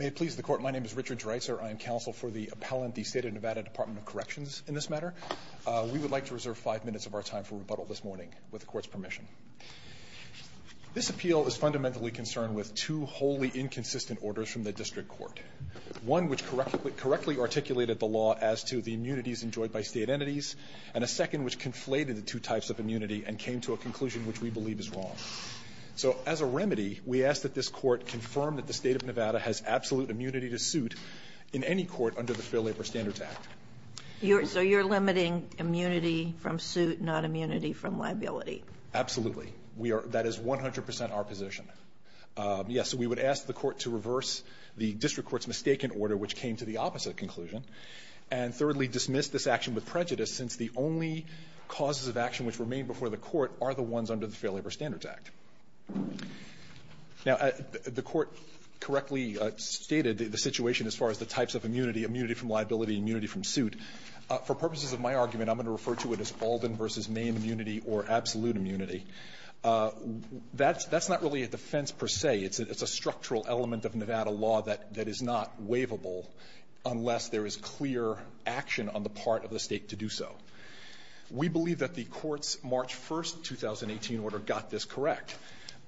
May it please the Court, my name is Richard Dreitzer. I am counsel for the appellant the State of Nevada Department of Corrections in this matter. We would like to reserve five minutes of our time for rebuttal this morning with the court's permission. This appeal is fundamentally concerned with two wholly inconsistent orders from the district court. One which correctly articulated the law as to the immunities enjoyed by state entities and a second which conflated the two types of immunity and came to a conclusion which we believe is wrong. So as a remedy, we ask that this court confirm that the State of Nevada has absolute immunity to suit in any court under the Fair Labor Standards Act. So you're limiting immunity from suit, not immunity from liability? Absolutely. We are, that is 100% our position. Yes, so we would ask the court to reverse the district court's mistaken order which came to the opposite conclusion and thirdly dismiss this action with prejudice since the only causes of action which remain before the court are the ones under the Fair Labor Standards Act. Now, the court correctly stated the situation as far as the types of immunity, immunity from liability, immunity from suit. For purposes of my argument, I'm going to refer to it as Alden v. Main immunity or absolute immunity. That's not really a defense per se. It's a structural element of Nevada law that is not state to do so. We believe that the court's March 1st, 2018 order got this correct.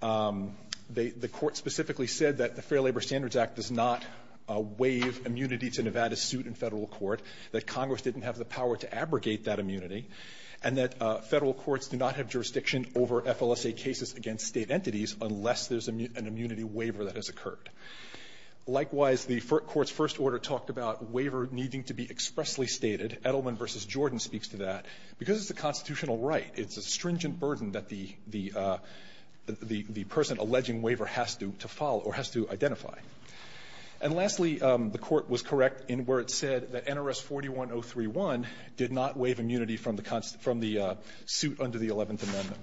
The court specifically said that the Fair Labor Standards Act does not waive immunity to Nevada's suit in federal court, that Congress didn't have the power to abrogate that immunity, and that federal courts do not have jurisdiction over FLSA cases against state entities unless there's an immunity waiver that has occurred. Likewise, the court's first order talked about waiver needing to be expressly stated. Edelman v. Jordan speaks to that. Because it's a constitutional right, it's a stringent burden that the person alleging waiver has to follow or has to identify. And lastly, the court was correct in where it said that NRS 41031 did not waive immunity from the suit under the Eleventh Amendment.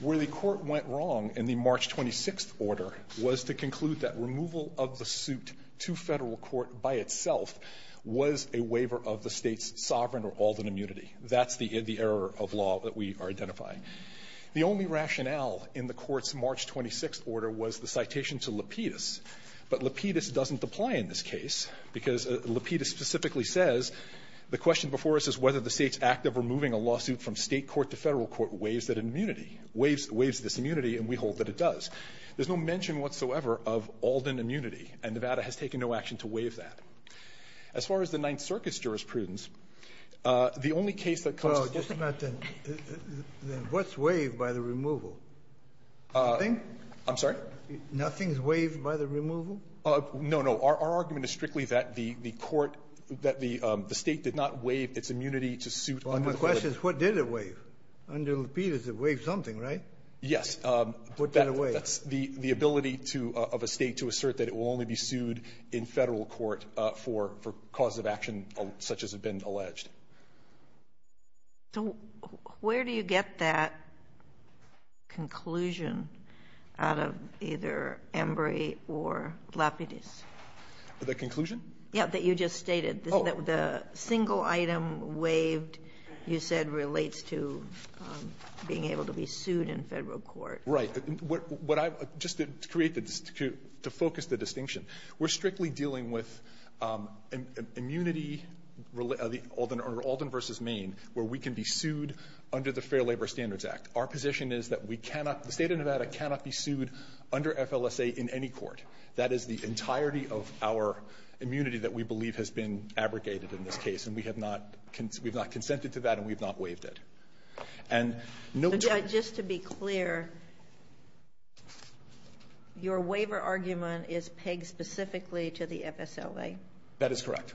Where the court went wrong in the March 26th order was to conclude that removal of the suit to federal court by itself was a waiver of the State's sovereign or all that immunity. That's the error of law that we are identifying. The only rationale in the court's March 26th order was the citation to Lapidus. But Lapidus doesn't apply in this case, because Lapidus specifically says the question before us is whether the State's act of removing a lawsuit from State court to federal court is a waiver of all that immunity. And Nevada has taken no action to waive that. As far as the Ninth Circuit's jurisprudence, the only case that comes to form is the court. Kennedy. What's waived by the removal? Nothing? Edelman. I'm sorry? Kennedy. Nothing is waived by the removal? Edelman. No, no. Our argument is strictly that the court, that the State did not waive its immunity to suit under the law. Kennedy. My question is what did it waive? Under Lapidus, it waived something, right? Edelman. Yes. Kennedy. What did it waive? Edelman. That's the ability of a State to assert that it will only be sued in federal court for causes of action such as have been alleged. Kagan. So where do you get that conclusion out of either Embry or Lapidus? Edelman. The conclusion? Kagan. Yeah, that you just stated. The single item waived, you said, relates to being able to be sued in federal court. Edelman. Right. What I've just created to focus the distinction. We're strictly dealing with immunity, Alden v. Maine, where we can be sued under the Fair Labor Standards Act. Our position is that we cannot, the State of Nevada cannot be sued under FLSA in any court. That is the entirety of our immunity that we believe has been abrogated in this case, and we have not consented to that, and we have not waived it. And note 20. Kagan. Just to be clear, your waiver argument is pegged specifically to the FSLA? Edelman. That is correct.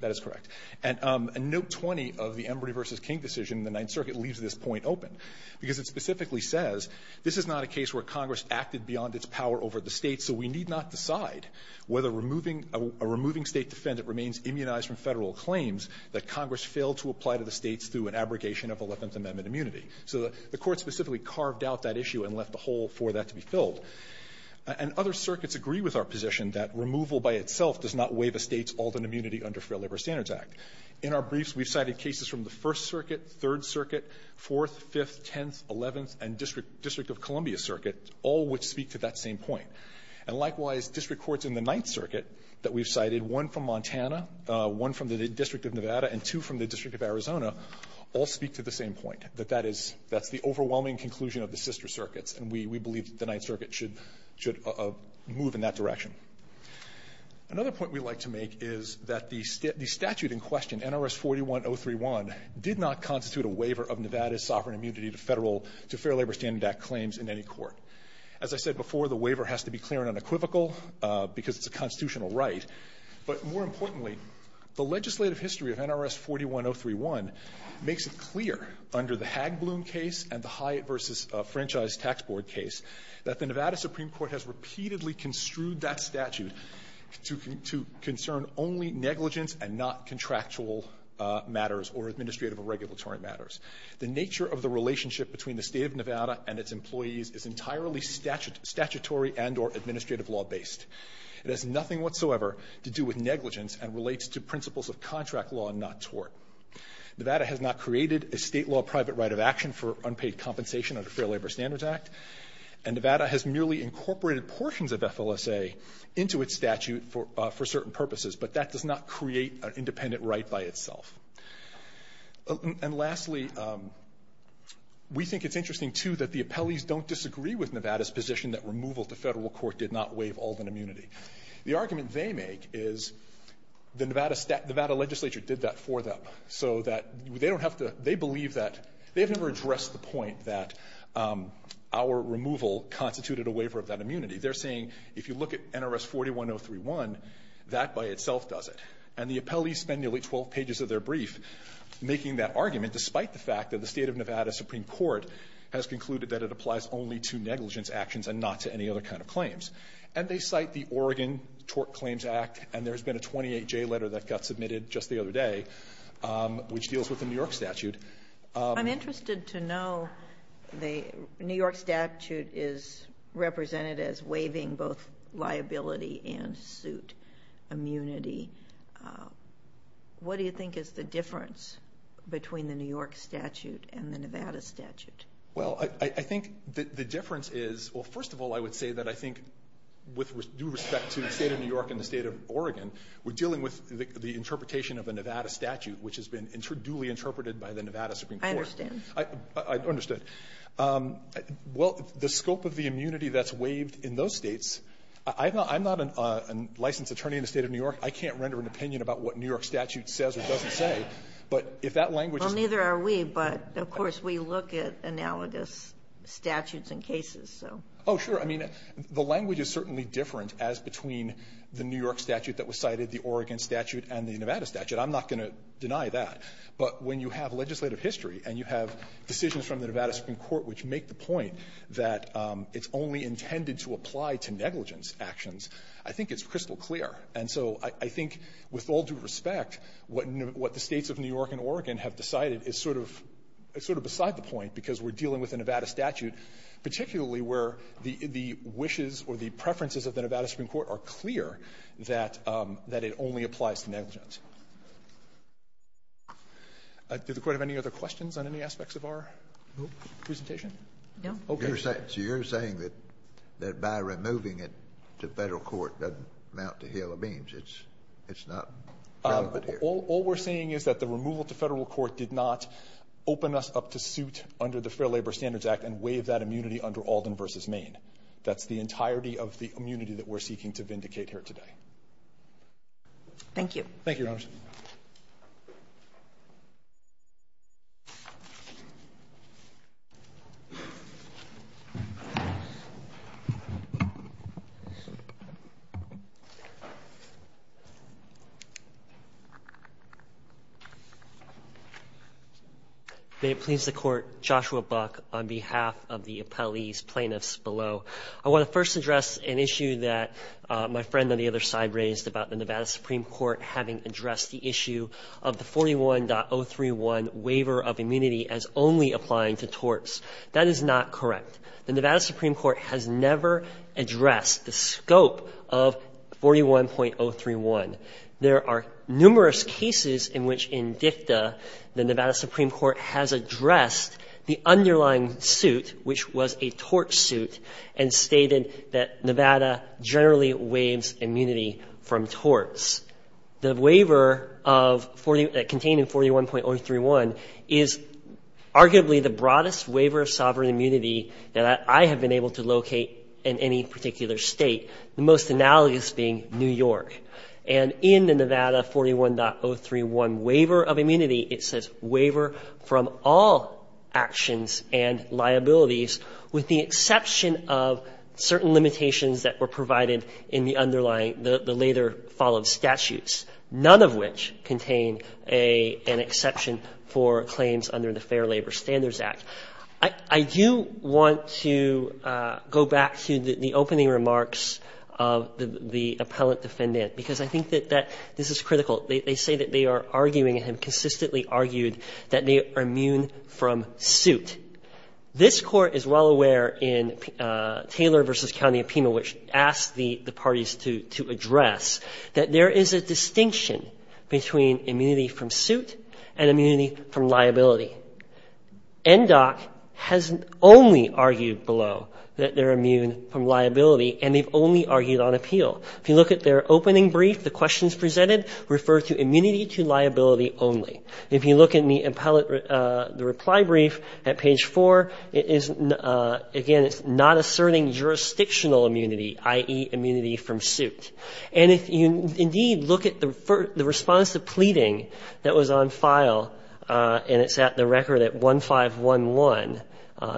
That is correct. And note 20 of the Embry v. King decision in the Ninth Circuit leaves this point open, because it specifically says, this is not a case where Congress acted beyond its power over the State, so we need not decide whether a removing State defendant remains immunized from federal claims that Congress failed to apply to the States through an abrogation of Eleventh Amendment immunity. So the Court specifically carved out that issue and left the hole for that to be filled. And other circuits agree with our position that removal by itself does not waive a State's Alden immunity under Fair Labor Standards Act. In our briefs, we've cited cases from the First Circuit, Third Circuit, Fourth, Fifth, Tenth, Eleventh, and District of Columbia Circuit, all which speak to that same point. And likewise, district courts in the Ninth Circuit that we've cited, one from Montana, one from the District of Nevada, and two from the District of Arizona, all speak to the same point, that that is, that's the overwhelming conclusion of the sister circuits, and we believe that the Ninth Circuit should move in that direction. Another point we'd like to make is that the statute in question, NRS 41031, did not constitute a waiver of Nevada's sovereign immunity to federal, to Fair Labor Standards Act claims in any court. As I said before, the waiver has to be clear and unequivocal. Because it's a constitutional right. But more importantly, the legislative history of NRS 41031 makes it clear under the Hagbloom case and the Hyatt v. Franchise Tax Board case that the Nevada Supreme Court has repeatedly construed that statute to concern only negligence and not contractual matters or administrative or regulatory matters. The nature of the relationship between the State of Nevada and its employees is entirely statutory and or administrative law based. It has nothing whatsoever to do with negligence and relates to principles of contract law not tort. Nevada has not created a state law private right of action for unpaid compensation under Fair Labor Standards Act, and Nevada has merely incorporated portions of FLSA into its statute for certain purposes. But that does not create an independent right by itself. And lastly, we think it's interesting, too, that the appellees don't disagree with Nevada's position that removal to federal court did not waive Alden immunity. The argument they make is the Nevada legislature did that for them so that they don't have to, they believe that, they've never addressed the point that our removal constituted a waiver of that immunity. They're saying, if you look at NRS 41031, that by itself does it. And the appellees spend nearly 12 pages of their brief making that argument despite the fact that the legislature concluded that it applies only to negligence actions and not to any other kind of claims. And they cite the Oregon Tort Claims Act, and there's been a 28J letter that got submitted just the other day, which deals with the New York statute. I'm interested to know the New York statute is represented as waiving both liability and suit immunity. What do you think is the difference between the New York statute and the Nevada statute? Well, I think the difference is, well, first of all, I would say that I think with due respect to the State of New York and the State of Oregon, we're dealing with the interpretation of the Nevada statute, which has been duly interpreted by the Nevada Supreme Court. I understand. I understand. Well, the scope of the immunity that's waived in those States, I'm not a licensed attorney in the State of New York. I can't render an opinion about what New York statute says or doesn't say, but if that language is used. Well, neither are we, but, of course, we look at analogous statutes and cases. So. Oh, sure. I mean, the language is certainly different as between the New York statute that was cited, the Oregon statute, and the Nevada statute. I'm not going to deny that. But when you have legislative history and you have decisions from the Nevada Supreme Court which make the point that it's only intended to apply to negligence actions, I think it's crystal clear. And so I think with all due respect, what the States of New York and Oregon have decided is sort of beside the point, because we're dealing with a Nevada statute, particularly where the wishes or the preferences of the Nevada Supreme Court are clear that it only applies to negligence. Does the Court have any other questions on any aspects of our presentation? No. Okay. So you're saying that by removing it to Federal court doesn't amount to heel or beams. It's not relevant here. All we're saying is that the removal to Federal court did not open us up to suit under the Fair Labor Standards Act and waive that immunity under Alden versus Maine. That's the entirety of the immunity that we're seeking to vindicate here today. Thank you. Thank you, Your Honor. May it please the Court, Joshua Buck, on behalf of the appellees, plaintiffs below, I want to first address an issue that my friend on the other side raised about the Nevada Supreme Court having addressed the issue of the 41.031 waiver of immunity as only applying to torts. That is not correct. The Nevada Supreme Court has never addressed the scope of 41.031. There are numerous cases in which in dicta the Nevada Supreme Court has addressed the underlying suit, which was a tort suit, and stated that Nevada generally waives immunity from torts. The waiver of 41, contained in 41.031, is arguably the broadest waiver of sovereign immunity that I have been able to locate in any particular state, the most analogous being New York. And in the Nevada 41.031 waiver of immunity, it says, waiver from all actions and liabilities with the exception of certain limitations that were provided in the underlying, the later followed statutes, none of which contain an exception for claims under the Fair Labor Standards Act. I do want to go back to the opening remarks of the appellate defendant. Because I think that this is critical. They say that they are arguing and have consistently argued that they are immune from suit. This Court is well aware in Taylor v. County of Pima, which asked the parties to address, that there is a distinction between immunity from suit and immunity from liability. NDOC has only argued below that they're immune from liability, and they've only argued on appeal. If you look at their opening brief, the questions presented refer to immunity to liability only. If you look at the reply brief at page 4, it is, again, it's not asserting jurisdictional immunity, i.e., immunity from suit. And if you indeed look at the response to pleading that was on file, and it's at the record at 1511,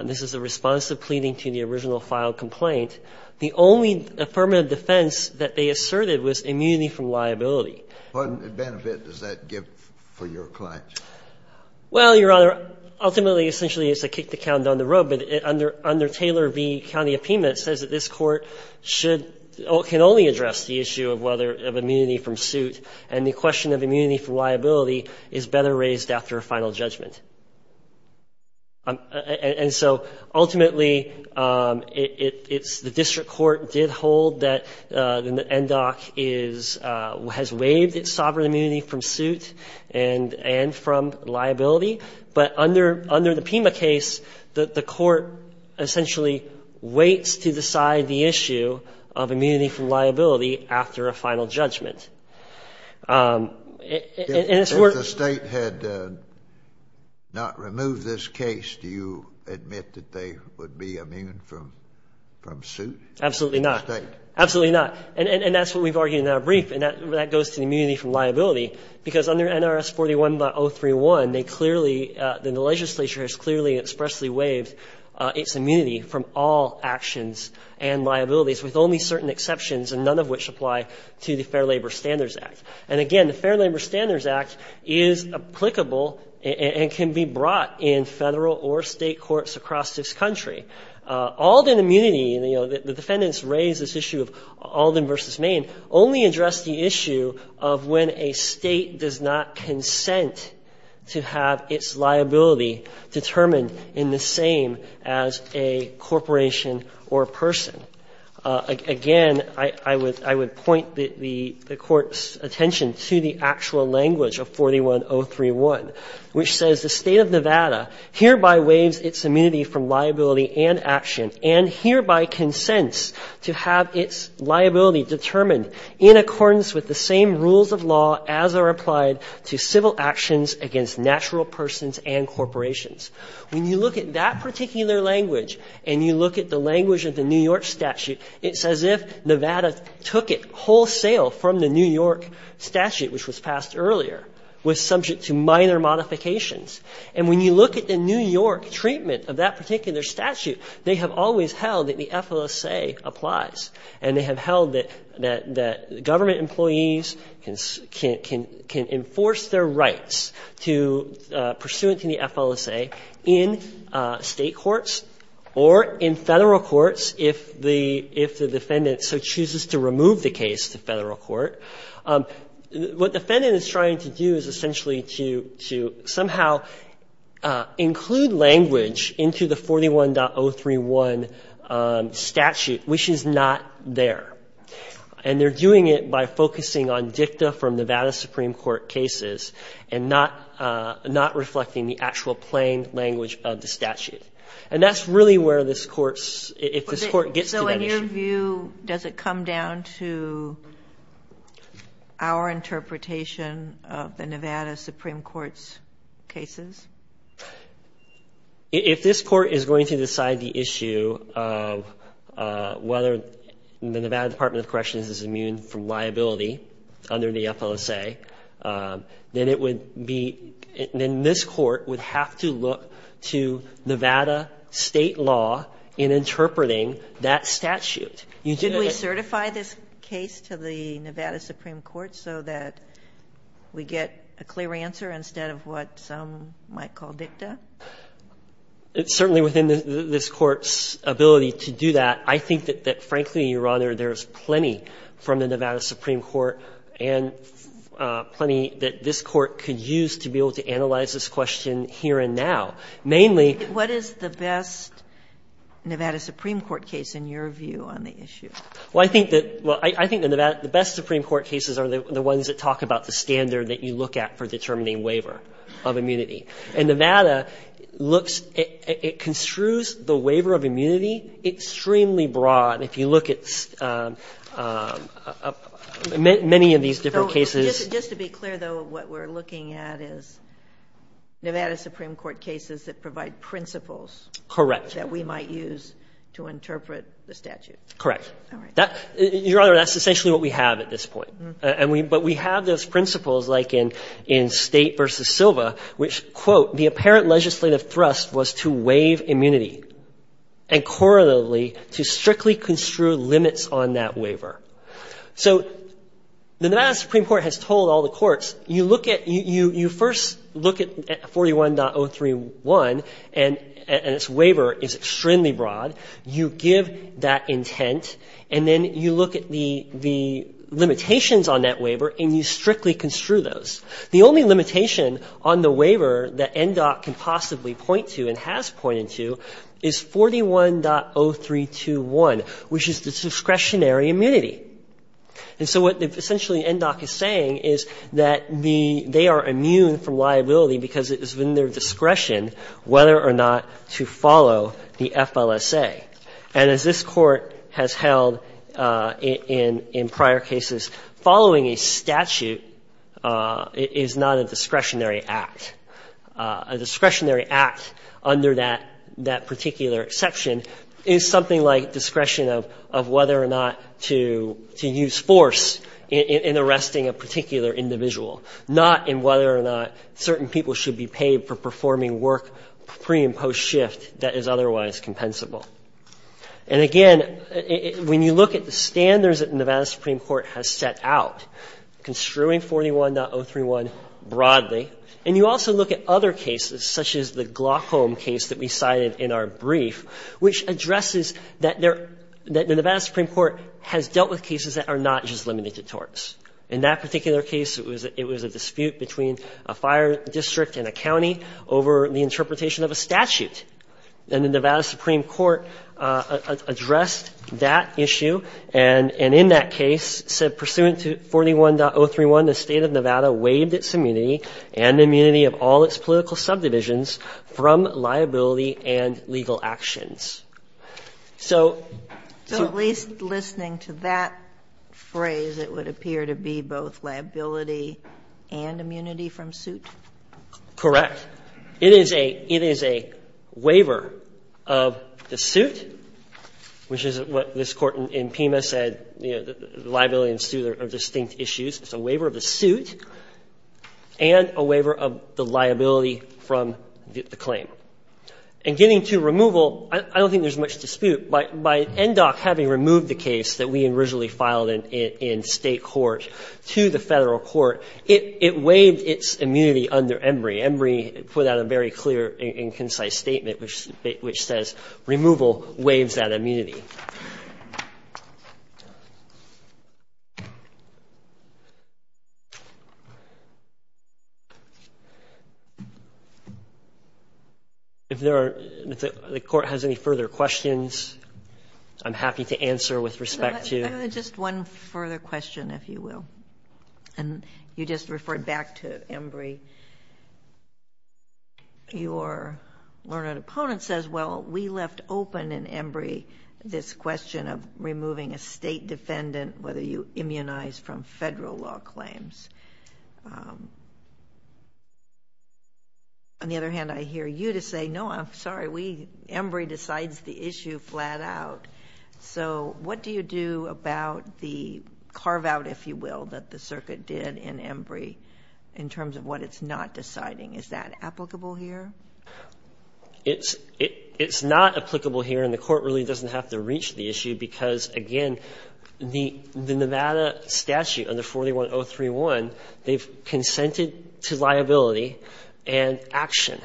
this is a response to pleading to the original file complaint, the only affirmative defense that they asserted was immunity from liability. What benefit does that give for your client? Well, Your Honor, ultimately, essentially, it's a kick-the-count down the road. But under Taylor v. County of Pima, it says that this Court should or can only address the issue of whether immunity from suit and the question of immunity from liability is better raised after a final judgment. And so, ultimately, it's the district court did hold that the NDOC is, has waived its sovereign immunity from suit and from liability. But under the Pima case, the Court essentially waits to decide the issue of immunity from liability after a final judgment. If the State had not removed this case, do you admit that they would be immune from suit? Absolutely not. The State? Absolutely not. And that's what we've argued in our brief, and that goes to immunity from liability, because under NRS 41.031, they clearly, the legislature has clearly and expressly waived its immunity from all actions and liabilities, with only certain exceptions and none of which apply to the Fair Labor Standards Act. And again, the Fair Labor Standards Act is applicable and can be brought in Federal or State courts across this country. Alden immunity, you know, the defendants raised this issue of Alden v. Maine, only addressed the issue of when a State does not consent to have its liability determined in the same as a corporation or a person. Again, I would point the Court's attention to the actual language of 41.031, which says the State of Nevada hereby waives its immunity from liability and action and hereby consents to have its liability determined in accordance with the same rules of law as are applied to civil actions against natural persons and corporations. When you look at that particular language and you look at the language of the New York statute, it's as if Nevada took it wholesale from the New York statute, which was passed earlier, was subject to minor modifications. And when you look at the New York treatment of that particular statute, they have always held that the FLSA applies, and they have held that government employees can enforce their rights pursuant to the FLSA in State courts or in Federal courts if the defendant so chooses to remove the case to Federal court. What the defendant is trying to do is essentially to somehow include language into the 41.031 statute, which is not there. And they're doing it by focusing on dicta from Nevada Supreme Court cases and not reflecting the actual plain language of the statute. And that's really where this Court's, if this Court gets to that issue. So in your view, does it come down to our interpretation of the Nevada Supreme Court's cases? If this Court is going to decide the issue of whether the Nevada Department of Corrections is immune from liability under the FLSA, then it would be, then this Court would have to look to Nevada State law in interpreting that statute. Should we certify this case to the Nevada Supreme Court so that we get a clear answer instead of what some might call dicta? It's certainly within this Court's ability to do that. I think that, frankly, Your Honor, there's plenty from the Nevada Supreme Court and plenty that this Court could use to be able to analyze this question here and now. Mainly What is the best Nevada Supreme Court case in your view on the issue? Well, I think that the best Supreme Court cases are the ones that talk about the determining waiver of immunity. And Nevada looks, it construes the waiver of immunity extremely broad. If you look at many of these different cases. Just to be clear, though, what we're looking at is Nevada Supreme Court cases that provide principles. Correct. That we might use to interpret the statute. Correct. Your Honor, that's essentially what we have at this point. But we have those principles like in State versus Silva, which, quote, the apparent legislative thrust was to waive immunity and correlatively to strictly construe limits on that waiver. So the Nevada Supreme Court has told all the courts, you first look at 41.031 and its waiver is extremely broad. You give that intent. And then you look at the limitations on that waiver and you strictly construe those. The only limitation on the waiver that NDOC can possibly point to and has pointed to is 41.0321, which is the discretionary immunity. And so what essentially NDOC is saying is that they are immune from liability because it has been their discretion whether or not to follow the FLSA. And as this Court has held in prior cases, following a statute is not a discretionary act. A discretionary act under that particular exception is something like discretion of whether or not to use force in arresting a particular individual, not in whether or not certain people should be paid for performing work pre and post shift that is otherwise compensable. And again, when you look at the standards that Nevada Supreme Court has set out, construing 41.031 broadly, and you also look at other cases such as the Glaucom case that we cited in our brief, which addresses that the Nevada Supreme Court has dealt with cases that are not just limited torts. In that particular case, it was a dispute between a fire district and a county over the interpretation of a statute. And the Nevada Supreme Court addressed that issue and in that case said, pursuant to 41.031, the State of Nevada waived its immunity and the immunity of all its political subdivisions from liability and legal actions. So at least listening to that phrase, it would appear to be both liability and immunity from suit? Correct. It is a waiver of the suit, which is what this Court in Pima said, liability and suit are distinct issues. It's a waiver of the suit and a waiver of the liability from the claim. And getting to removal, I don't think there's much dispute. By NDOC having removed the case that we originally filed in State court to the Federal court, it waived its immunity under Embry. Embry put out a very clear and concise statement which says, removal waives that immunity. If there are, if the Court has any further questions, I'm happy to answer with respect to. Just one further question, if you will. And you just referred back to Embry. Your learned opponent says, well, we left open in Embry, this question of removing a State defendant, whether you immunize from Federal law claims. On the other hand, I hear you to say, no, I'm sorry. Embry decides the issue flat out. So what do you do about the carve out, if you will, that the circuit did in Embry in terms of what it's not deciding? Is that applicable here? It's not applicable here, and the Court really doesn't have to reach the issue because, again, the Nevada statute under 41031, they've consented to liability and action.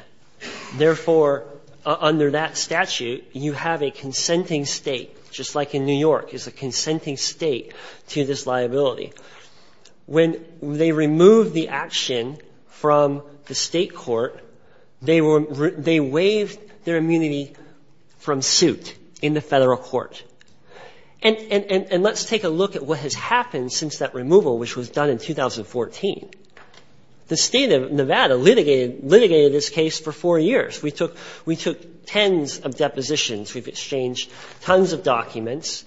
Therefore, under that statute, you have a consenting State, just like in New York is a consenting State to this liability. When they removed the action from the State court, they waived their immunity from suit in the Federal court. And let's take a look at what has happened since that removal, which was done in 2014. The State of Nevada litigated this case for four years. We took tens of depositions. We've exchanged tons of documents.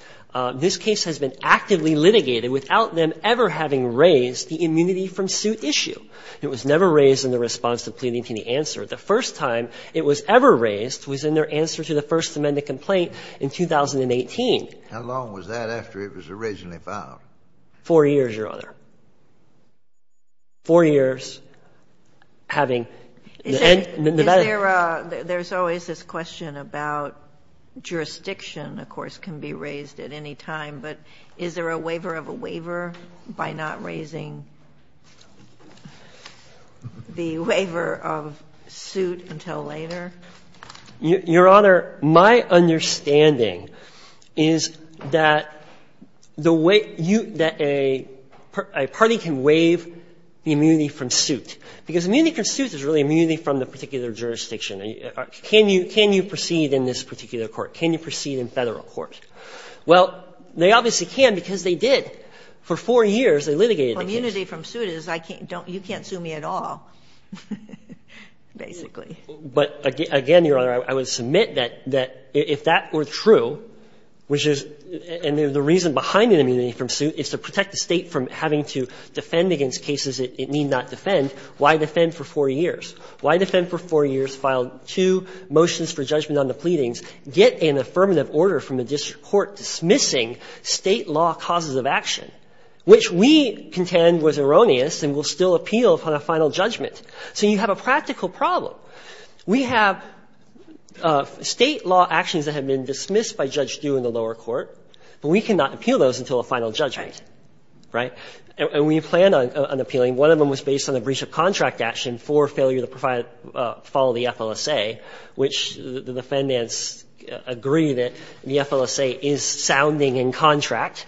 This case has been actively litigated without them ever having raised the immunity from suit issue. It was never raised in the response to pleading to the answer. The first time it was ever raised was in their answer to the First Amendment complaint in 2018. How long was that after it was originally filed? Four years, Your Honor. Four years having the Nevada. There's always this question about jurisdiction, of course, can be raised at any time. But is there a waiver of a waiver by not raising the waiver of suit until later? Your Honor, my understanding is that the way that a party can waive the immunity from suit, because immunity from suit is really immunity from the particular jurisdiction. Can you proceed in this particular court? Can you proceed in Federal court? Well, they obviously can because they did. For four years, they litigated the case. Well, immunity from suit is you can't sue me at all, basically. But again, Your Honor, I would submit that if that were true, which is the reason behind the immunity from suit is to protect the State from having to defend against cases it need not defend, why defend for four years? Why defend for four years, file two motions for judgment on the pleadings, get an affirmative order from the district court dismissing State law causes of action, which we contend was erroneous and will still appeal on a final judgment? So you have a practical problem. We have State law actions that have been dismissed by Judge Due in the lower court, but we cannot appeal those until a final judgment, right? And we plan on appealing. One of them was based on the breach of contract action for failure to follow the FLSA, which the defendants agree that the FLSA is sounding in contract.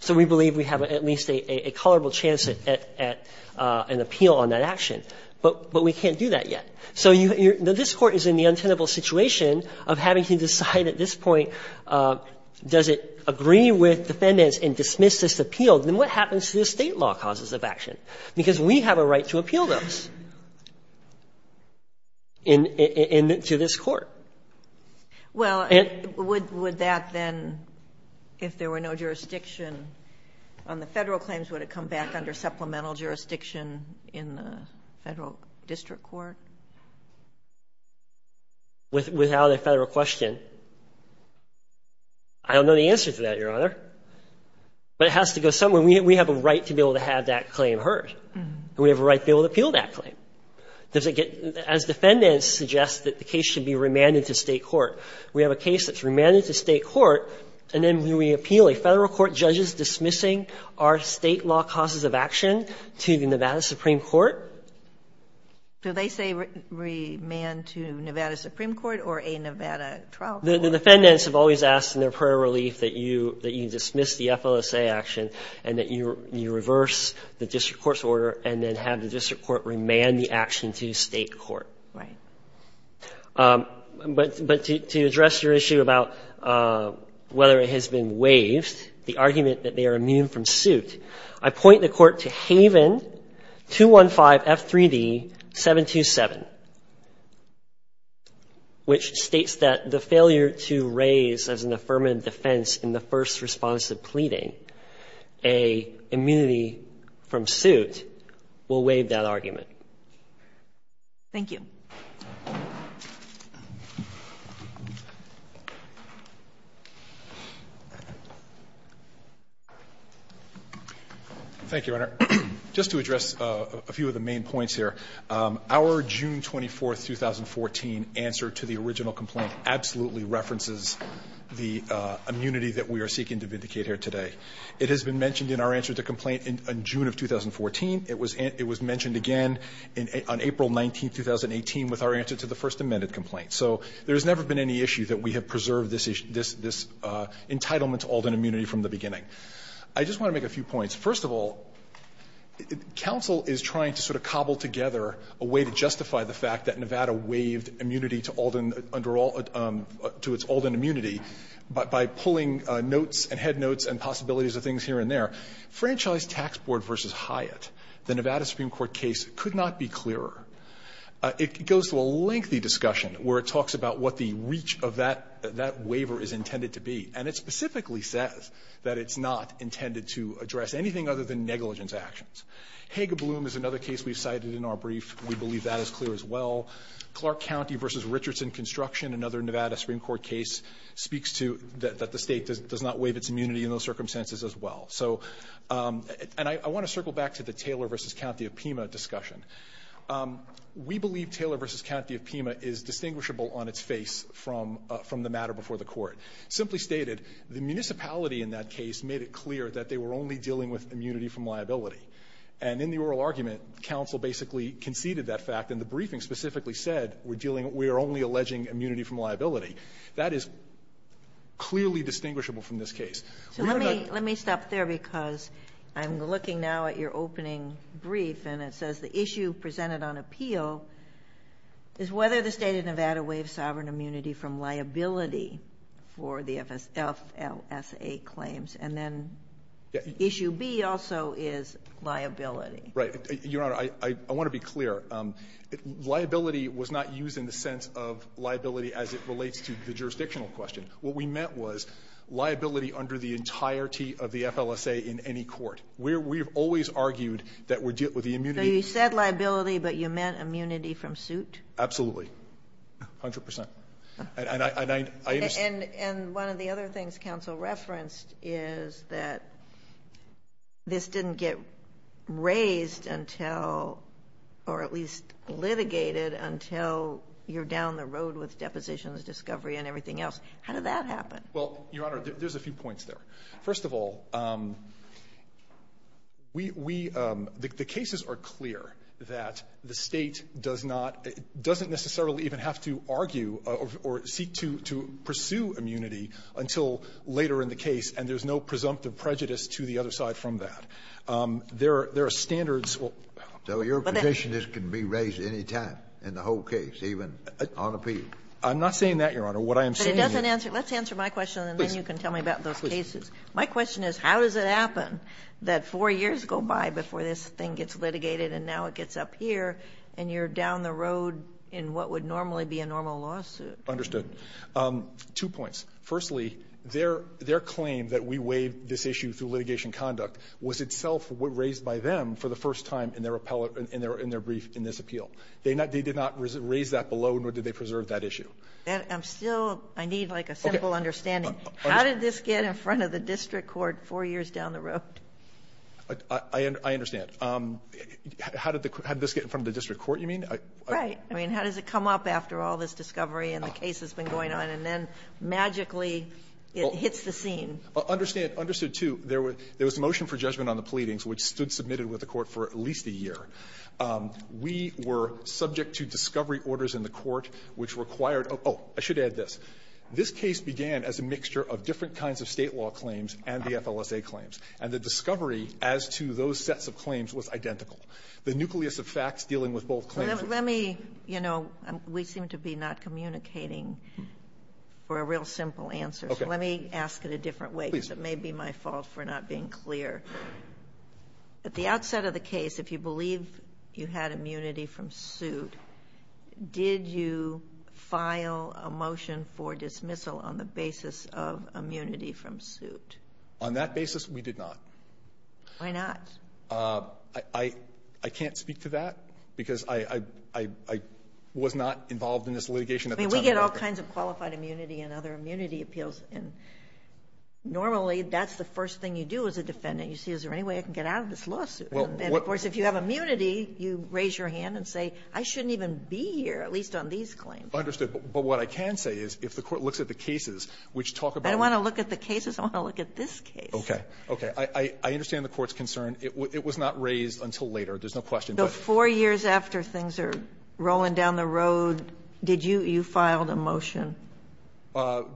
So we believe we have at least a tolerable chance at an appeal on that action. But we can't do that yet. So this Court is in the untenable situation of having to decide at this point, does it agree with defendants and dismiss this appeal? Then what happens to the State law causes of action? Because we have a right to appeal those to this Court. Well, would that then, if there were no jurisdiction on the Federal claims, would it come back under supplemental jurisdiction in the Federal district court? Without a Federal question, I don't know the answer to that, Your Honor. But it has to go somewhere. We have a right to be able to have that claim heard. We have a right to be able to appeal that claim. As defendants suggest that the case should be remanded to State court, we have a case that's remanded to State court, and then we appeal a Federal court, judges dismissing our State law causes of action to the Nevada Supreme Court. Do they say remand to Nevada Supreme Court or a Nevada trial court? The defendants have always asked in their prayer of relief that you dismiss the FLSA action and that you reverse the district court's order and then have the district court remand the action to State court. Right. But to address your issue about whether it has been waived, the argument that they are immune from suit, I point the Court to Haven 215 F3D 727, which states that the failure to raise as an affirmative defense in the first response to pleading a immunity from suit will waive that argument. Thank you. Thank you, Your Honor. Just to address a few of the main points here. Our June 24, 2014 answer to the original complaint absolutely references the immunity that we are seeking to vindicate here today. It has been mentioned in our answer to complaint in June of 2014. It was mentioned again on April 19, 2018 with our answer to the First Amendment complaint. So there has never been any issue that we have preserved this entitlement to Alden immunity from the beginning. I just want to make a few points. First of all, counsel is trying to sort of cobble together a way to justify the fact that Nevada waived immunity to Alden immunity by pulling notes and head notes and possibilities of things here and there. Franchise Tax Board v. Hyatt, the Nevada Supreme Court case, could not be clearer. It goes to a lengthy discussion where it talks about what the reach of that waiver is intended to be. And it specifically says that it's not intended to address anything other than negligence actions. Hager Bloom is another case we've cited in our brief. We believe that is clear as well. Clark County v. Richardson Construction, another Nevada Supreme Court case, speaks to that the state does not waive its immunity in those circumstances as well. And I want to circle back to the Taylor v. County of Pima discussion. We believe Taylor v. County of Pima is distinguishable on its face from the matter before the court. Simply stated, the municipality in that case made it clear that they were only dealing with immunity from liability. And in the oral argument, counsel basically conceded that fact, and the briefing specifically said we're dealing, we are only alleging immunity from liability. That is clearly distinguishable from this case. We're not going to do that. Let me stop there because I'm looking now at your opening brief, and it says the issue presented on appeal is whether the State of Nevada waived sovereign immunity from liability for the FLSA claims. And then issue B also is liability. Right. Your Honor, I want to be clear. Liability was not used in the sense of liability as it relates to the jurisdictional question. What we meant was liability under the entirety of the FLSA in any court. We have always argued that we're dealing with the immunity. So you said liability, but you meant immunity from suit? Absolutely. A hundred percent. And I understand. And one of the other things counsel referenced is that this didn't get raised until, or at least litigated until you're down the road with depositions, discovery, and everything else. How did that happen? Well, Your Honor, there's a few points there. First of all, we, the cases are clear that the State does not, doesn't necessarily even have to argue or seek to pursue immunity until later in the case. And there's no presumptive prejudice to the other side from that. There are standards. So your position is it can be raised at any time in the whole case, even on appeal? I'm not saying that, Your Honor. What I am saying is. But it doesn't answer. Let's answer my question, and then you can tell me about those cases. My question is, how does it happen that four years go by before this thing gets And that would normally be a normal lawsuit. Understood. Two points. Firstly, their claim that we waive this issue through litigation conduct was itself raised by them for the first time in their brief in this appeal. They did not raise that below, nor did they preserve that issue. I'm still, I need like a simple understanding. How did this get in front of the district court four years down the road? I understand. How did this get in front of the district court, you mean? Right. I mean, how does it come up after all this discovery and the case has been going on, and then magically it hits the scene? Understood, too. There was a motion for judgment on the pleadings which stood submitted with the court for at least a year. We were subject to discovery orders in the court which required, oh, I should add this. This case began as a mixture of different kinds of State law claims and the FLSA claims. And the discovery as to those sets of claims was identical. The nucleus of facts dealing with both claims. Let me, you know, we seem to be not communicating for a real simple answer. Okay. So let me ask it a different way. Please. Because it may be my fault for not being clear. At the outset of the case, if you believe you had immunity from suit, did you file a motion for dismissal on the basis of immunity from suit? On that basis, we did not. Why not? I can't speak to that. Because I was not involved in this litigation at the time. I mean, we get all kinds of qualified immunity and other immunity appeals. And normally that's the first thing you do as a defendant. You see, is there any way I can get out of this lawsuit? And, of course, if you have immunity, you raise your hand and say, I shouldn't even be here, at least on these claims. Understood. But what I can say is if the court looks at the cases which talk about them. I don't want to look at the cases. I want to look at this case. Okay. Okay. I understand the court's concern. It was not raised until later. There's no question. But four years after things are rolling down the road, did you – you filed a motion? Well,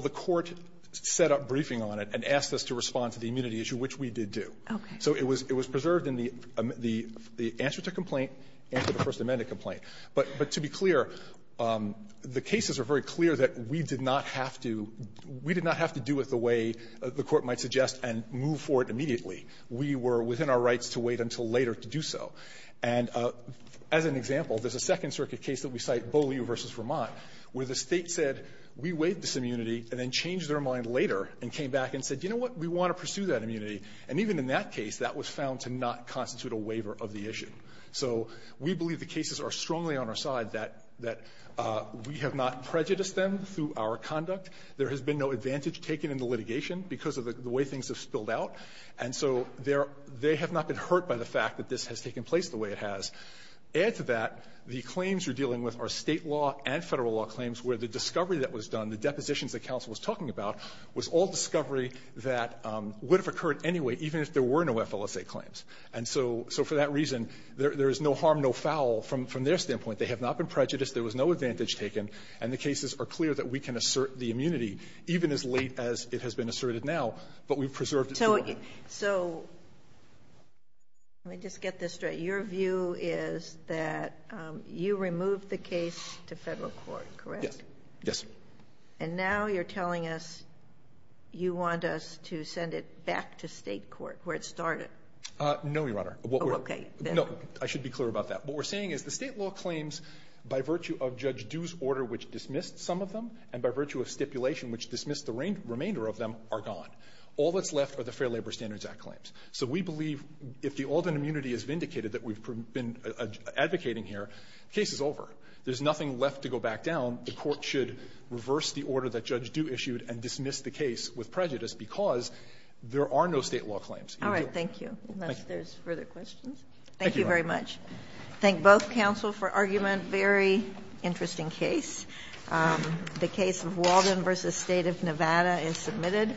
the court set up briefing on it and asked us to respond to the immunity issue, which we did do. Okay. So it was preserved in the answer to complaint and to the First Amendment complaint. But to be clear, the cases are very clear that we did not have to – we did not have to do it the way the court might suggest and move forward immediately. We were within our rights to wait until later to do so. And as an example, there's a Second Circuit case that we cite, Beaulieu v. Vermont, where the State said, we waive this immunity, and then changed their mind later and came back and said, you know what, we want to pursue that immunity. And even in that case, that was found to not constitute a waiver of the issue. So we believe the cases are strongly on our side, that we have not prejudiced them through our conduct. There has been no advantage taken in the litigation because of the way things have spilled out. And so they have not been hurt by the fact that this has taken place the way it has. Add to that, the claims you're dealing with are State law and Federal law claims, where the discovery that was done, the depositions that counsel was talking about, was all discovery that would have occurred anyway, even if there were no FLSA claims. And so for that reason, there is no harm, no foul from their standpoint. They have not been prejudiced. There was no advantage taken. And the cases are clear that we can assert the immunity, even as late as it has been asserted now. But we've preserved it forever. So let me just get this straight. Your view is that you removed the case to Federal court, correct? Yes. Yes. And now you're telling us you want us to send it back to State court, where it started? No, Your Honor. Oh, okay. No, I should be clear about that. What we're saying is the State law claims, by virtue of Judge Due's order which dismissed some of them, and by virtue of stipulation which dismissed the remainder of them, are gone. All that's left are the Fair Labor Standards Act claims. So we believe if the Alden immunity is vindicated that we've been advocating here, the case is over. There's nothing left to go back down. The Court should reverse the order that Judge Due issued and dismiss the case with prejudice, because there are no State law claims. All right. Thank you. Unless there's further questions. Thank you, Your Honor. Thank you very much. Thank both counsel for argument. Very interesting case. The case of Walden v. State of Nevada is submitted.